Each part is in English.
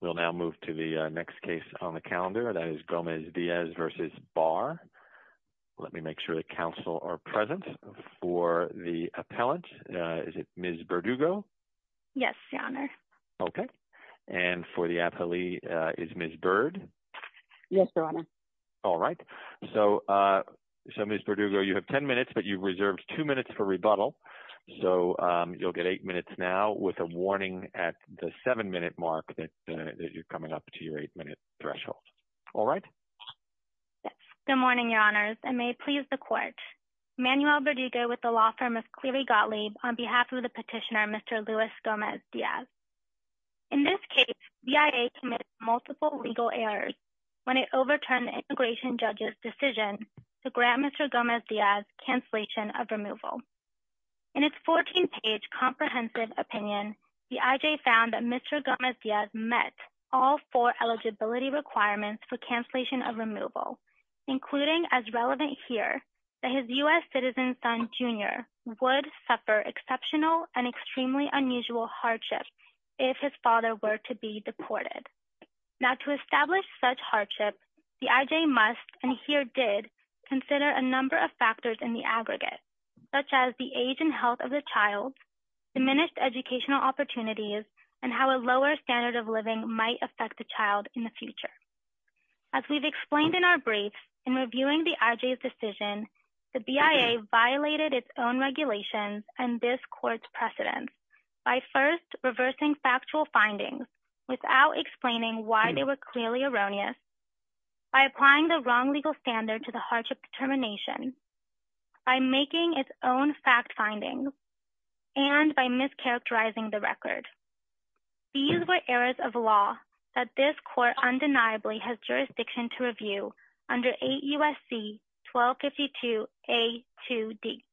We'll now move to the next case on the calendar. That is Gomez Diaz v. Barr. Let me make sure that counsel are present for the appellant. Is it Ms. Berdugo? Yes, Your Honor. Okay. And for the appellee, is Ms. Bird? Yes, Your Honor. All right. So, Ms. Berdugo, you have 10 minutes, but you've reserved two minutes for rebuttal. So, you'll get eight minutes now with a warning at the seven-minute mark that you're coming up to your eight-minute threshold. All right? Good morning, Your Honors, and may it please the Court. Manuel Berdugo with the law firm of Cleary Gottlieb on behalf of the petitioner, Mr. Luis Gomez Diaz. In this case, BIA committed multiple legal errors when it overturned the immigration judge's decision to grant Mr. Gomez Diaz cancellation of removal. In its 14-page comprehensive opinion, the IJ found that Mr. Gomez Diaz met all four eligibility requirements for cancellation of removal, including, as relevant here, that his U.S. citizen son, Jr., would suffer exceptional and extremely unusual hardship if his father were to be deported. Now, to establish such hardship, the IJ must, and here did, consider a number of As we've explained in our brief, in reviewing the IJ's decision, the BIA violated its own regulations and this Court's precedents by first reversing factual findings without explaining why they were clearly erroneous, by applying the wrong legal standard to the hardship determination, by making its own fact findings, and by mischaracterizing the record. These were errors of law that this Court undeniably has jurisdiction to review under 8 U.S.C. 1252 A.2.D.,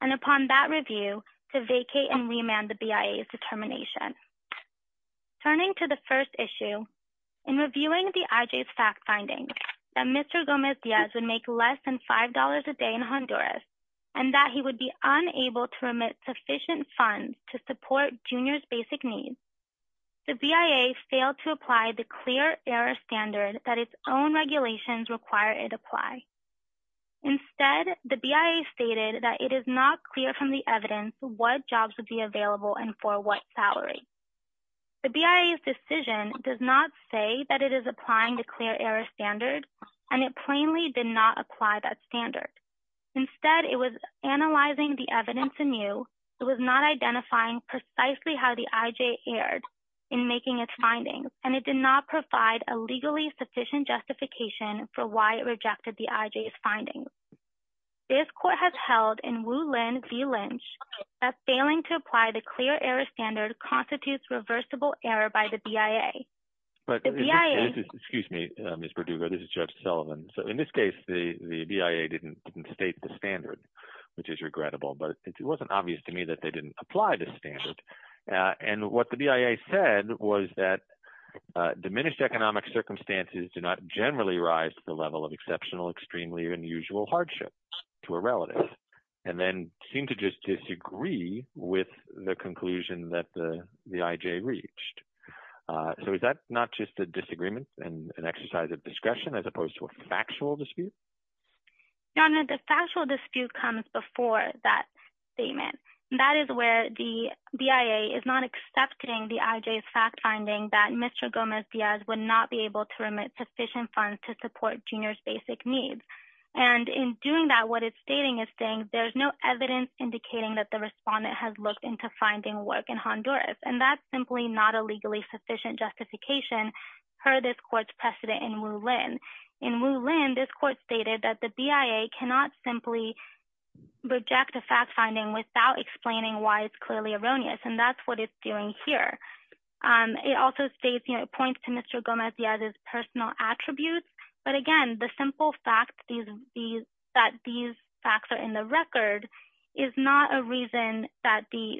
and upon that review, to vacate and remand the BIA's determination. Turning to the first issue, in reviewing the IJ's fact findings, that Mr. Gomez Diaz would make less than $5 a day in Honduras and that he would be unable to remit sufficient funds to support Jr.'s basic needs, the BIA failed to apply the clear error standard that its own regulations require it apply. Instead, the BIA stated that it is not clear from the evidence what jobs would be available and for what salary. The BIA's decision does not say that it is applying the clear error standard, and it plainly did not apply that standard. Instead, it was analyzing the evidence anew. It was not identifying precisely how the IJ erred in making its findings, and it did not provide a legally sufficient justification for why it rejected the IJ's findings. This Court has held in Wu Lin v. Lynch that failing to apply the clear error standard constitutes reversible error by the This is Jeff Sullivan. So in this case, the BIA didn't state the standard, which is regrettable, but it wasn't obvious to me that they didn't apply the standard. And what the BIA said was that diminished economic circumstances do not generally rise to the level of exceptional, extremely unusual hardship to a relative, and then seem to just disagree with the conclusion that the factual dispute? The factual dispute comes before that statement. That is where the BIA is not accepting the IJ's fact-finding that Mr. Gomez-Diaz would not be able to remit sufficient funds to support Junior's basic needs. And in doing that, what it's stating is saying there's no evidence indicating that the respondent has looked into finding work in Honduras, and that's simply not legally sufficient justification per this Court's precedent in Wu Lin. In Wu Lin, this Court stated that the BIA cannot simply reject a fact-finding without explaining why it's clearly erroneous, and that's what it's doing here. It also states, you know, it points to Mr. Gomez-Diaz's personal attributes. But again, the simple fact that these facts are in the record is not a reason that the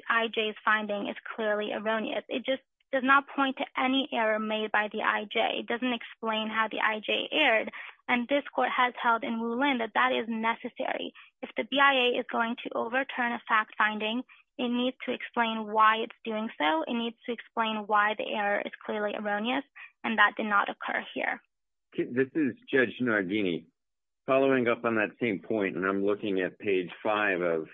does not point to any error made by the IJ. It doesn't explain how the IJ erred, and this Court has held in Wu Lin that that is necessary. If the BIA is going to overturn a fact-finding, it needs to explain why it's doing so. It needs to explain why the error is clearly erroneous, and that did not occur here. This is Judge Nardini. Following up on that same point, and I'm looking at page five of,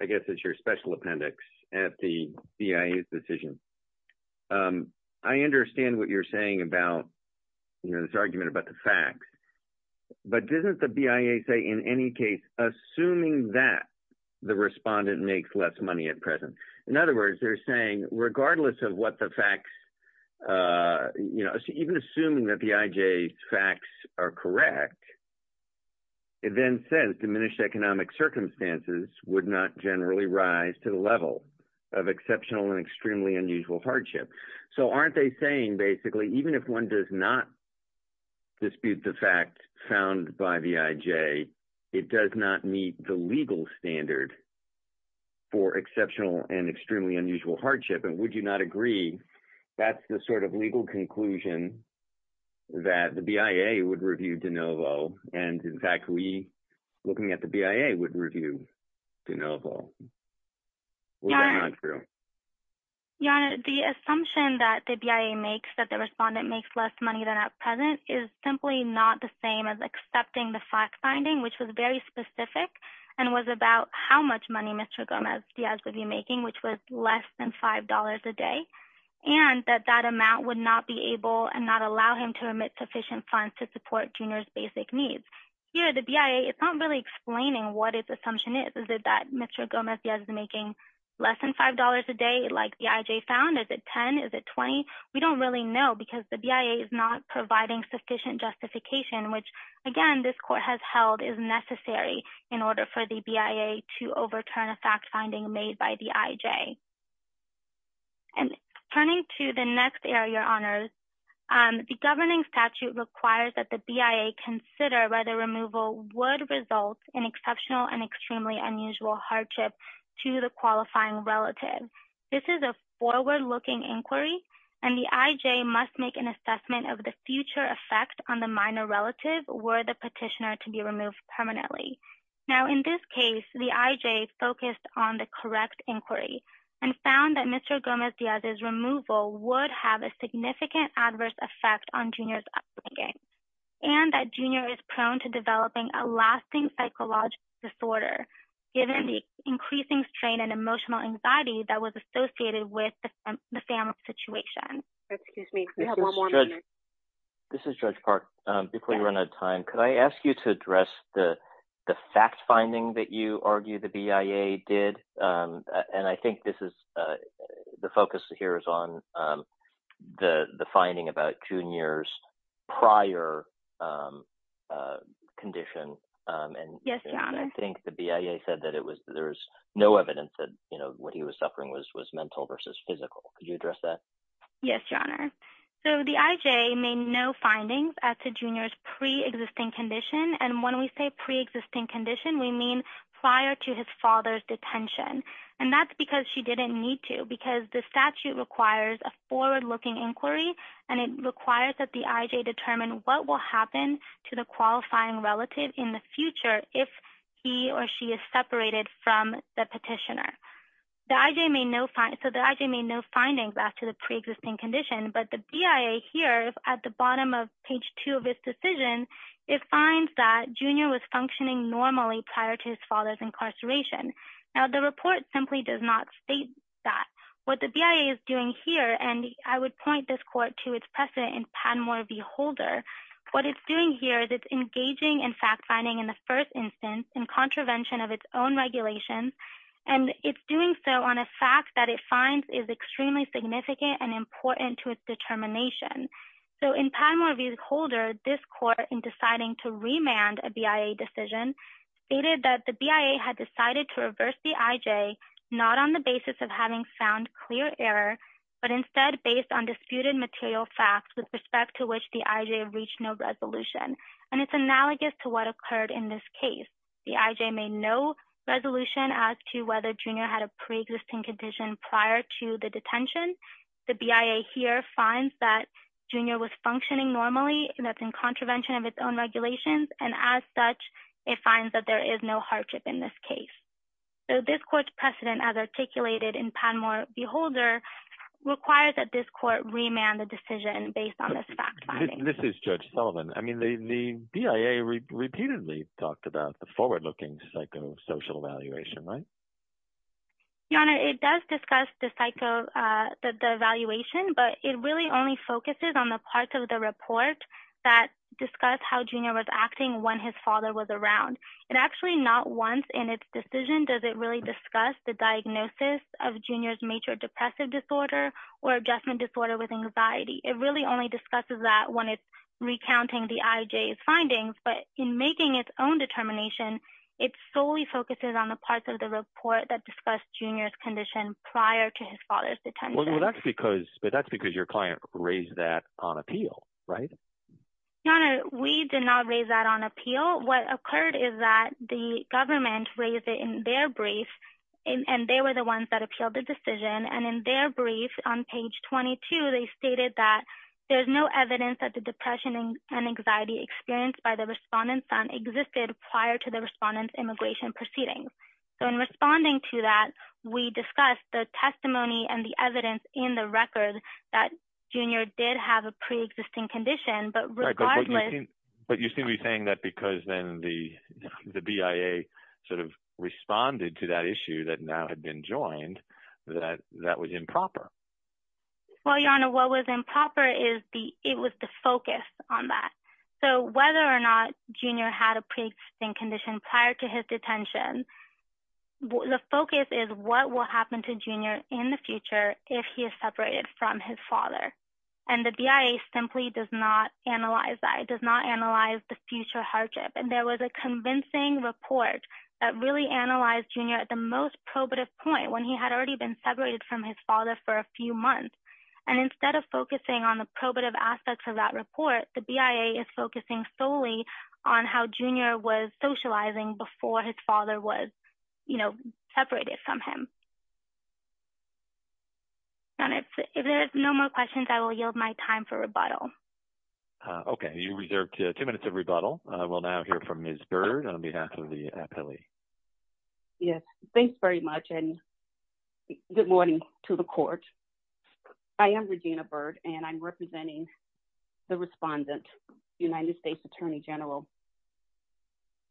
I guess, it's your special appendix at the BIA's decision. I understand what you're saying about, you know, this argument about the facts, but doesn't the BIA say in any case, assuming that the respondent makes less money at present? In other words, they're saying regardless of what the facts, you know, even assuming that the IJ's facts are correct, it then says diminished economic circumstances would not generally rise to the level of exceptional and extremely unusual hardship. So, aren't they saying basically even if one does not dispute the fact found by the IJ, it does not meet the legal standard for exceptional and extremely unusual hardship, and would you not agree that's the sort of legal conclusion that the BIA would review de novo, and in fact, we, at the BIA, would review de novo? Was that not true? Your Honor, the assumption that the BIA makes that the respondent makes less money than at present is simply not the same as accepting the fact finding, which was very specific and was about how much money Mr. Gomez Diaz would be making, which was less than five dollars a day, and that that amount would not be able and not what its assumption is. Is it that Mr. Gomez Diaz is making less than five dollars a day like the IJ found? Is it 10? Is it 20? We don't really know because the BIA is not providing sufficient justification, which again, this court has held is necessary in order for the BIA to overturn a fact finding made by the IJ. And turning to the next area, Your Honor, the governing statute requires that the BIA consider whether removal would result in exceptional and extremely unusual hardship to the qualifying relative. This is a forward-looking inquiry, and the IJ must make an assessment of the future effect on the minor relative were the petitioner to be removed permanently. Now, in this case, the IJ focused on the correct inquiry and found that Mr. Gomez Diaz's would have a significant adverse effect on Junior's upbringing and that Junior is prone to developing a lasting psychological disorder given the increasing strain and emotional anxiety that was associated with the family situation. Excuse me, we have one more minute. This is Judge Park. Before you run out of time, could I ask you to address the fact finding that you argue the BIA did? And I think this is the focus here is on the finding about Junior's prior condition. Yes, Your Honor. I think the BIA said that there's no evidence that what he was suffering was mental versus physical. Could you address that? Yes, Your Honor. So, the IJ made no findings as to Junior's pre-existing condition. And when we say pre-existing condition, we mean prior to his father's detention. And that's because she didn't need to because the statute requires a forward-looking inquiry and it requires that the IJ determine what will happen to the qualifying relative in the future if he or she is separated from the petitioner. The IJ made no findings as to the pre-existing condition, but the BIA here at the bottom of the report simply does not state that. What the BIA is doing here and I would point this court to its precedent in Padmore v. Holder. What it's doing here is it's engaging in fact finding in the first instance in contravention of its own regulations. And it's doing so on a fact that it finds is extremely significant and important to its determination. So, in Padmore v. Holder, it stated that the BIA had decided to reverse the IJ not on the basis of having found clear error, but instead based on disputed material facts with respect to which the IJ reached no resolution. And it's analogous to what occurred in this case. The IJ made no resolution as to whether Junior had a pre-existing condition prior to the detention. The BIA here finds that Junior was functioning normally and that's in contravention of its own regulations. And as such, it finds that there is no hardship in this case. So, this court's precedent as articulated in Padmore v. Holder requires that this court remand the decision based on this fact. This is Judge Sullivan. I mean, the BIA repeatedly talked about the forward-looking psychosocial evaluation, right? Your Honor, it does discuss the evaluation, but it really only focuses on the parts of the report that discuss how Junior was acting when his father was around. And actually, not once in its decision does it really discuss the diagnosis of Junior's major depressive disorder or adjustment disorder with anxiety. It really only discusses that when it's recounting the IJ's findings. But in making its own determination, it solely focuses on the parts of the report that discuss Junior's condition prior to his father's detention. Well, that's because your client raised that on appeal, right? Your Honor, we did not raise that on appeal. What occurred is that the government raised it in their brief and they were the ones that appealed the decision. And in their brief, on page 22, they stated that there's no evidence that the depression and anxiety experienced by the respondent's son existed prior to the respondent's immigration proceedings. So, responding to that, we discussed the testimony and the evidence in the record that Junior did have a pre-existing condition, but regardless... Right, but you seem to be saying that because then the BIA sort of responded to that issue that now had been joined, that that was improper. Well, Your Honor, what was improper is the... It was the focus on that. So, whether or not prior to his detention, the focus is what will happen to Junior in the future if he is separated from his father. And the BIA simply does not analyze that. It does not analyze the future hardship. And there was a convincing report that really analyzed Junior at the most probative point when he had already been separated from his father for a few months. And instead of focusing on the socializing before his father was separated from him. Your Honor, if there's no more questions, I will yield my time for rebuttal. Okay. You reserved two minutes of rebuttal. We'll now hear from Ms. Bird on behalf of the appellee. Yes. Thanks very much, and good morning to the Court. I am Regina Bird, and I'm representing the respondent, the United States Attorney General.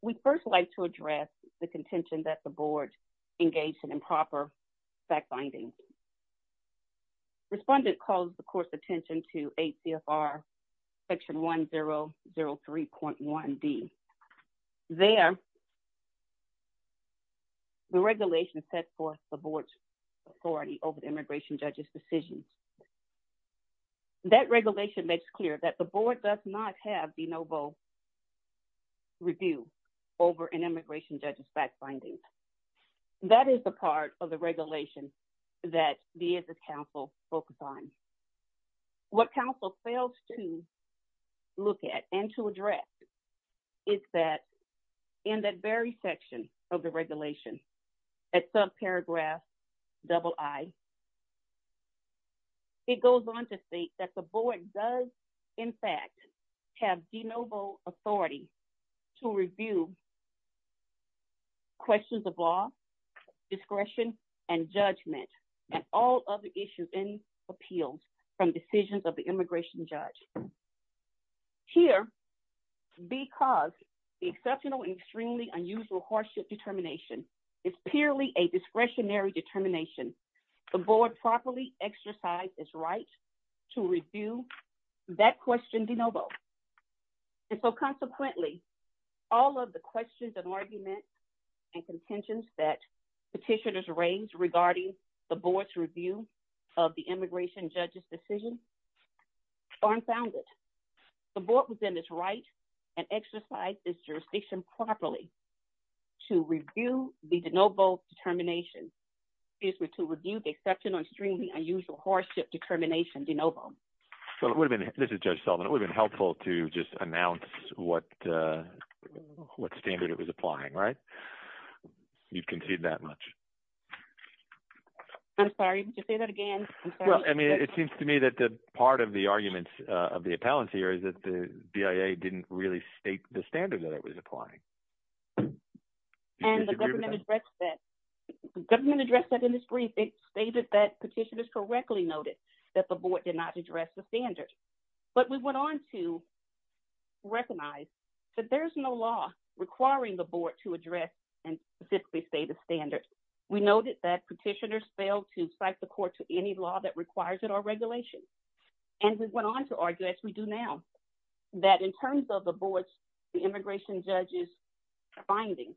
We'd first like to address the contention that the Board engaged in improper fact-finding. Respondent calls the Court's attention to 8 CFR Section 1003.1d. There, the regulation set forth the Board's authority over the immigration judge's decisions. That regulation makes clear that the Board does not have the no-vote review over an immigration judge's fact-finding. That is the part of the regulation that the Insist Council focused on. What Council fails to look at and to address is that in that very section of the regulation, at subparagraph double I, it goes on to state that the Board does, in fact, have the no-vote authority to review questions of law, discretion, and judgment, and all other issues and appeals from decisions of immigration judge. Here, because the exceptional and extremely unusual hardship determination is purely a discretionary determination, the Board properly exercised its right to review that question de novo. And so, consequently, all of the questions and arguments and contentions that petitioners raised regarding the Board's review of the immigration judge's decision are unfounded. The Board was in its right and exercised its jurisdiction properly to review the de novo determination, excuse me, to review the exceptional and extremely unusual hardship determination de novo. This is Judge Sullivan. It would have been helpful to just You've conceded that much. I'm sorry, would you say that again? Well, I mean, it seems to me that the part of the arguments of the appellants here is that the BIA didn't really state the standard that it was applying. And the government addressed that. The government addressed that in its brief. It stated that petitioners correctly noted that the Board did not address the standard. But we went on to recognize that there's no law requiring the Board to address and specifically state a standard. We noted that petitioners failed to cite the court to any law that requires it or regulation. And we went on to argue, as we do now, that in terms of the Board's immigration judge's findings,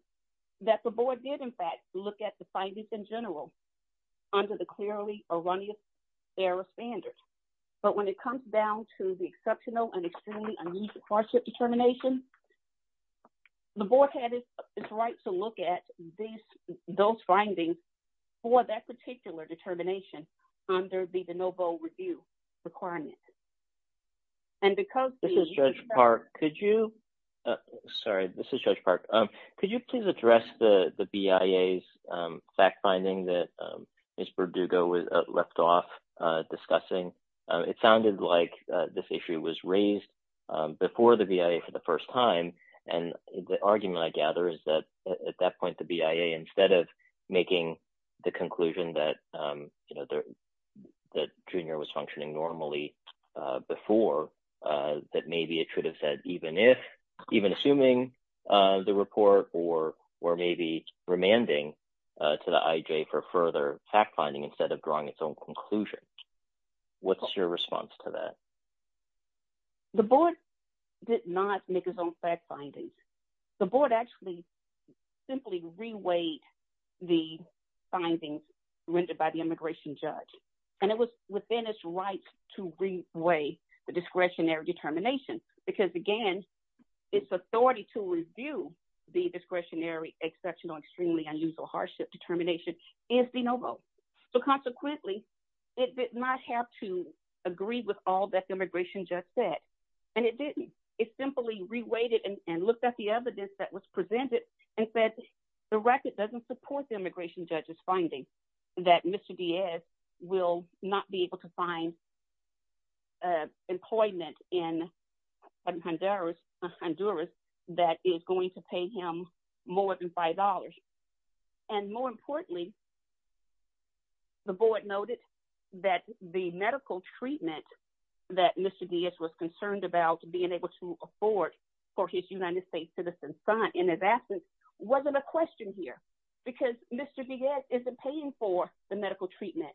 that the Board did, in fact, look at the findings in general under the clearly erroneous error standard. But when it comes down to the exceptional and extremely unusual hardship determination, the Board had its right to look at these, those findings for that particular determination under the de novo review requirement. And because this is Judge Park, could you? Sorry, this is Judge Park. Could you please address the BIA's fact-finding that Ms. Burdugo left off discussing? It sounded like this issue was raised before the BIA for the first time. And the argument I gather is that at that point, the BIA, instead of making the conclusion that, you know, that Junior was functioning normally before, that maybe it should have said even if, even assuming the report or maybe remanding to the IJ for further fact-finding instead of drawing its own conclusion. What's your response to that? The Board did not make its own fact-findings. The Board actually simply reweighed the findings rendered by the immigration judge. And it was within its rights to reweigh the discretionary determination. Because again, its authority to review the discretionary exceptional, extremely unusual hardship determination is de novo. So consequently, it did not have to agree with all that the immigration judge said. And it didn't. It simply reweighted and looked at the evidence that was presented and said the record doesn't support the immigration judge's that Mr. Diaz will not be able to find employment in Honduras that is going to pay him more than $5. And more importantly, the Board noted that the medical treatment that Mr. Diaz was concerned about being able to afford for his United States citizen son in his absence wasn't a question here. Because Mr. Diaz isn't paying for the medical treatment.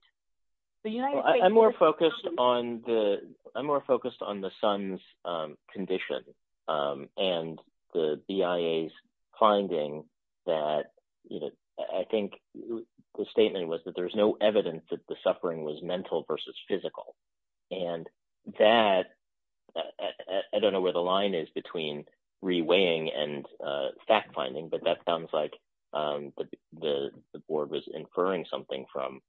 I'm more focused on the son's condition and the BIA's finding that, you know, I think the statement was that there's no evidence that the suffering was mental versus physical. And that I don't know where the line is between reweighing and fact-finding. But that sounds like the Board was inferring something from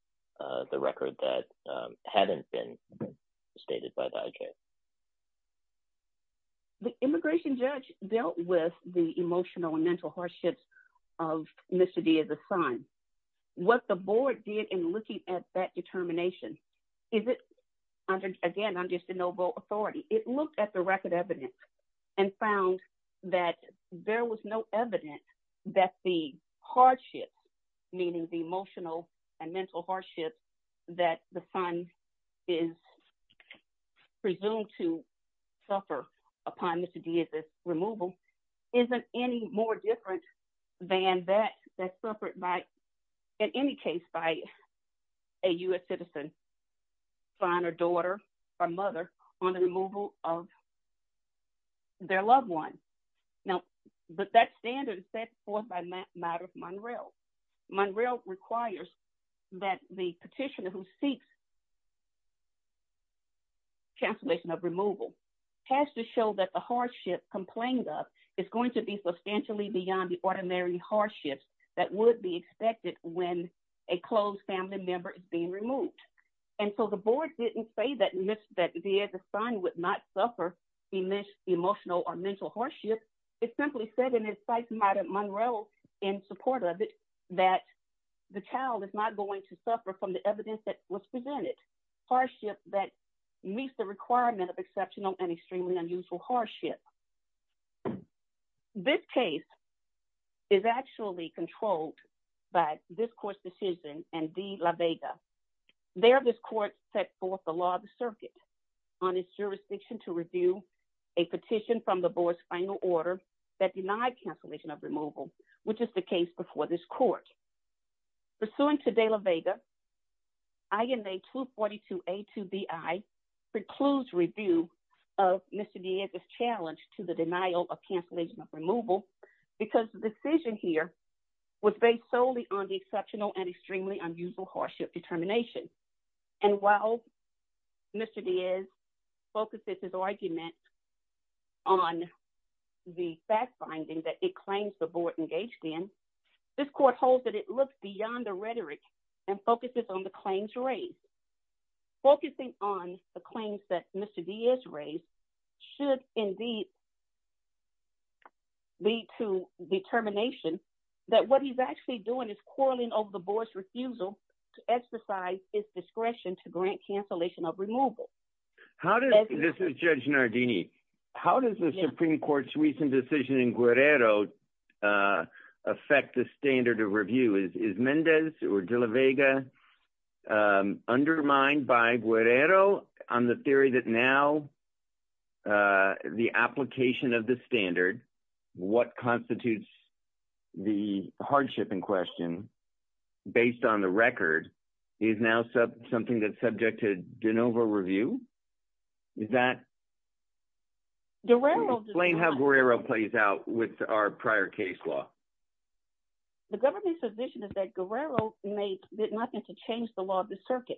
the record that hadn't been stated by the IJ. The immigration judge dealt with the emotional and mental hardships of Mr. Diaz's son. What the Board did in looking at that determination, is it, again, under de novo authority, it looked at the record evidence and found that there was no evidence that the hardship, meaning the emotional and mental hardship that the son is presumed to suffer upon Mr. Diaz's removal, isn't any more different than that that suffered by, in any case, by a U.S. citizen son or daughter or mother on the removal of their loved one. Now, but that standard is set forth by Maddow Munrell. Munrell requires that the petitioner who seeks cancellation of removal has to show that the hardship complained of is going to be substantially beyond the ordinary hardships that would be expected when a close family member is removed. And so the Board didn't say that Mr. Diaz's son would not suffer emotional or mental hardship. It simply said, and it cites Maddow Munrell in support of it, that the child is not going to suffer from the evidence that was presented, hardship that meets the requirement of exceptional and extremely unusual hardship. This case is actually controlled by this Court's and De La Vega. There, this Court set forth the law of the circuit on its jurisdiction to review a petition from the Board's final order that denied cancellation of removal, which is the case before this Court. Pursuant to De La Vega, INA 242A2BI precludes review of Mr. Diaz's challenge to the denial of cancellation of removal because the decision here was based solely on the exceptional and extremely unusual hardship determination. And while Mr. Diaz focuses his argument on the fact-finding that it claims the Board engaged in, this Court holds that it looks beyond the rhetoric and focuses on the claims raised. Focusing on the claims that Mr. Diaz raised should indeed lead to determination that what he's actually doing is quarreling over the Board's refusal to exercise its discretion to grant cancellation of removal. This is Judge Nardini. How does the Supreme Court's recent decision in Guerrero affect the standard of review? Is Mendez or De La Vega undermined by Guerrero on the theory that now the application of the standard, what constitutes the hardship in question, based on the record, is now something that's subject to de novo review? Is that... Guerrero... Explain how Guerrero plays out with our prior case law. The government's position is that Guerrero did nothing to change the law of the circuit.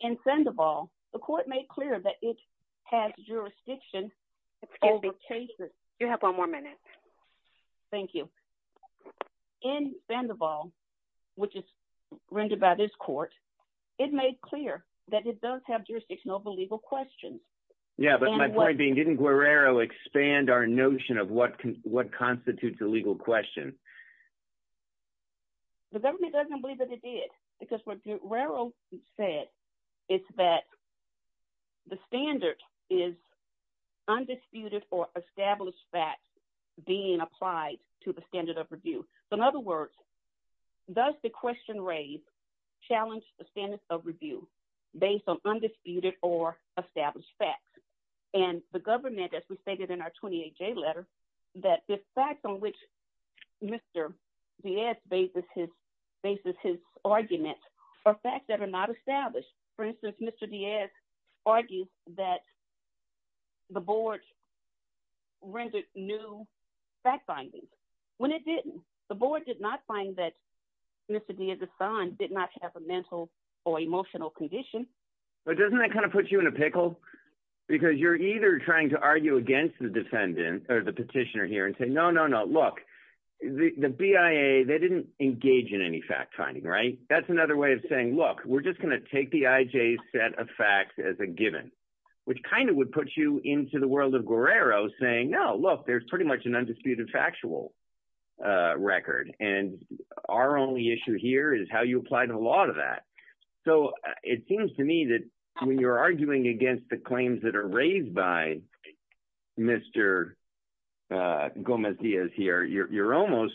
In Sandoval, the Court made clear that it has jurisdiction... Excuse me. You have one more minute. Thank you. In Sandoval, which is rendered by this Court, it made clear that it does have jurisdiction over legal questions. Yeah, but my point being, didn't Guerrero expand our notion of what constitutes a legal question? The government doesn't believe that it did, because what Guerrero said is that the standard is undisputed or established facts being applied to the standard of review. So in other words, does the question raised challenge the standard of review based on undisputed or established facts? And the government, as we stated in our 28-J letter, that the facts on which Mr. Diaz bases his argument are facts that are not established. For instance, Mr. Diaz argues that the board rendered new fact findings when it didn't. The board did not find that Mr. Diaz's son did not have a mental or emotional condition. But doesn't that kind of put you in a pickle? Because you're either trying to argue against the petitioner here and say, no, no, no, look, the BIA, they didn't engage in any fact finding, right? That's another way of saying, look, we're just going to take the IJ's set of facts as a given, which kind of would put you into the world of Guerrero saying, no, look, there's pretty much an undisputed factual record. And our only issue here is how you apply the law to that. So it seems to me that when you're arguing against the claims that are raised by Mr. Gomez Diaz here, you're almost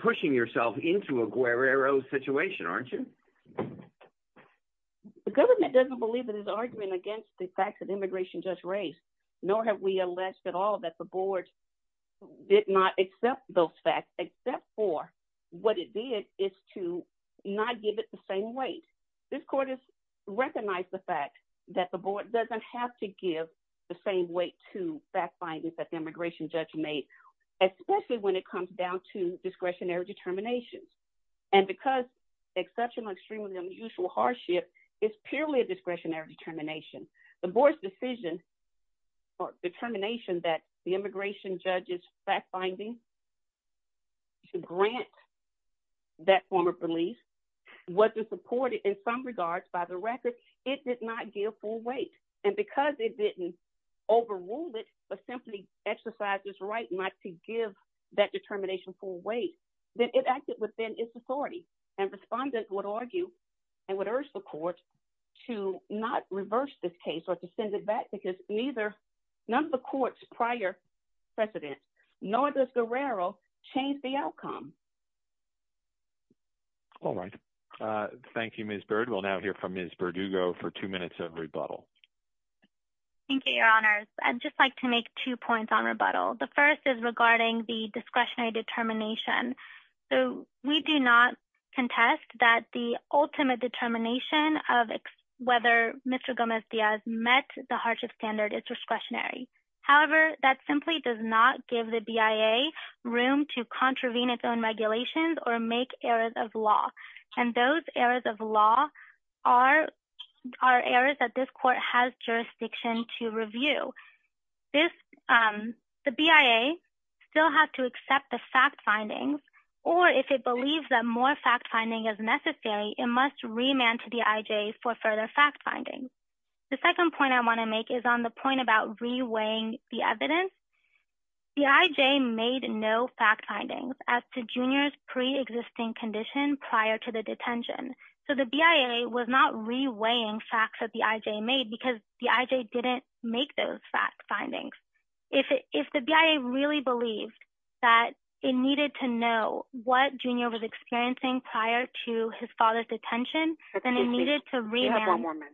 pushing yourself into a Guerrero situation, aren't you? The government doesn't believe in his argument against the facts that immigration just raised, nor have we alleged at all that the board did not accept those facts, except for what it did is to not give it the same weight. This court has recognized the fact that the board doesn't have to give the same weight to fact findings that the immigration judge made, especially when it comes down to discretionary determinations. And because exceptional, extremely unusual hardship is purely a discretionary determination, the board's decision or determination that the immigration judge's fact finding to grant that form of belief was supported in some regards by the record, it did not give full weight. And because it didn't overrule it, but simply exercise this right not to give that determination full weight, that it acted within its authority. And respondents would argue, and would urge the court to not reverse this case or to send it back because neither none of the court's prior precedents, nor does Guerrero change the outcome. All right. Thank you, Ms. Byrd. We'll now hear from Ms. Verdugo for two minutes of rebuttal. Thank you, Your Honors. I'd just like to make two points on rebuttal. The first is regarding the discretionary determination. So we do not contest that the ultimate determination of whether Mr. Gomez-Diaz met the hardship standard is discretionary. However, that simply does not give the BIA room to contravene its own regulations or make errors of law. And those errors of law are errors that this court has jurisdiction to review. The BIA still has to accept the fact findings, or if it believes that more fact finding is necessary, it must remand to the IJ for further fact findings. The second point I want to make is on the point about reweighing the evidence. The IJ made no fact findings as to Junior's preexisting condition prior to the detention. So the BIA was not reweighing facts that the IJ made because the IJ didn't make those fact findings. If the BIA really believed that it needed to know what Junior was experiencing prior to his father's detention, then it needed to remand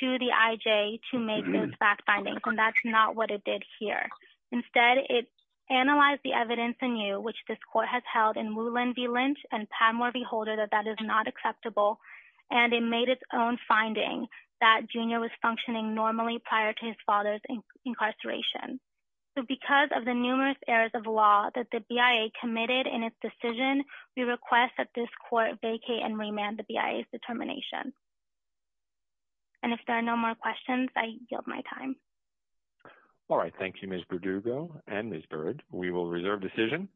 to the IJ to make those fact findings, and that's not what it did here. Instead, it analyzed the evidence anew, which this court has held in Woolin v. Lynch and Padmore v. Holder that that is not acceptable, and it made its own finding that Junior was functioning normally prior to his father's incarceration. So because of the numerous errors of law that the BIA committed in its decision, we request that this court vacate and remand the BIA's determination. And if there are no more questions, I yield my time. All right. Thank you, Ms. Burdugo and Ms. Burd. We will reserve decision.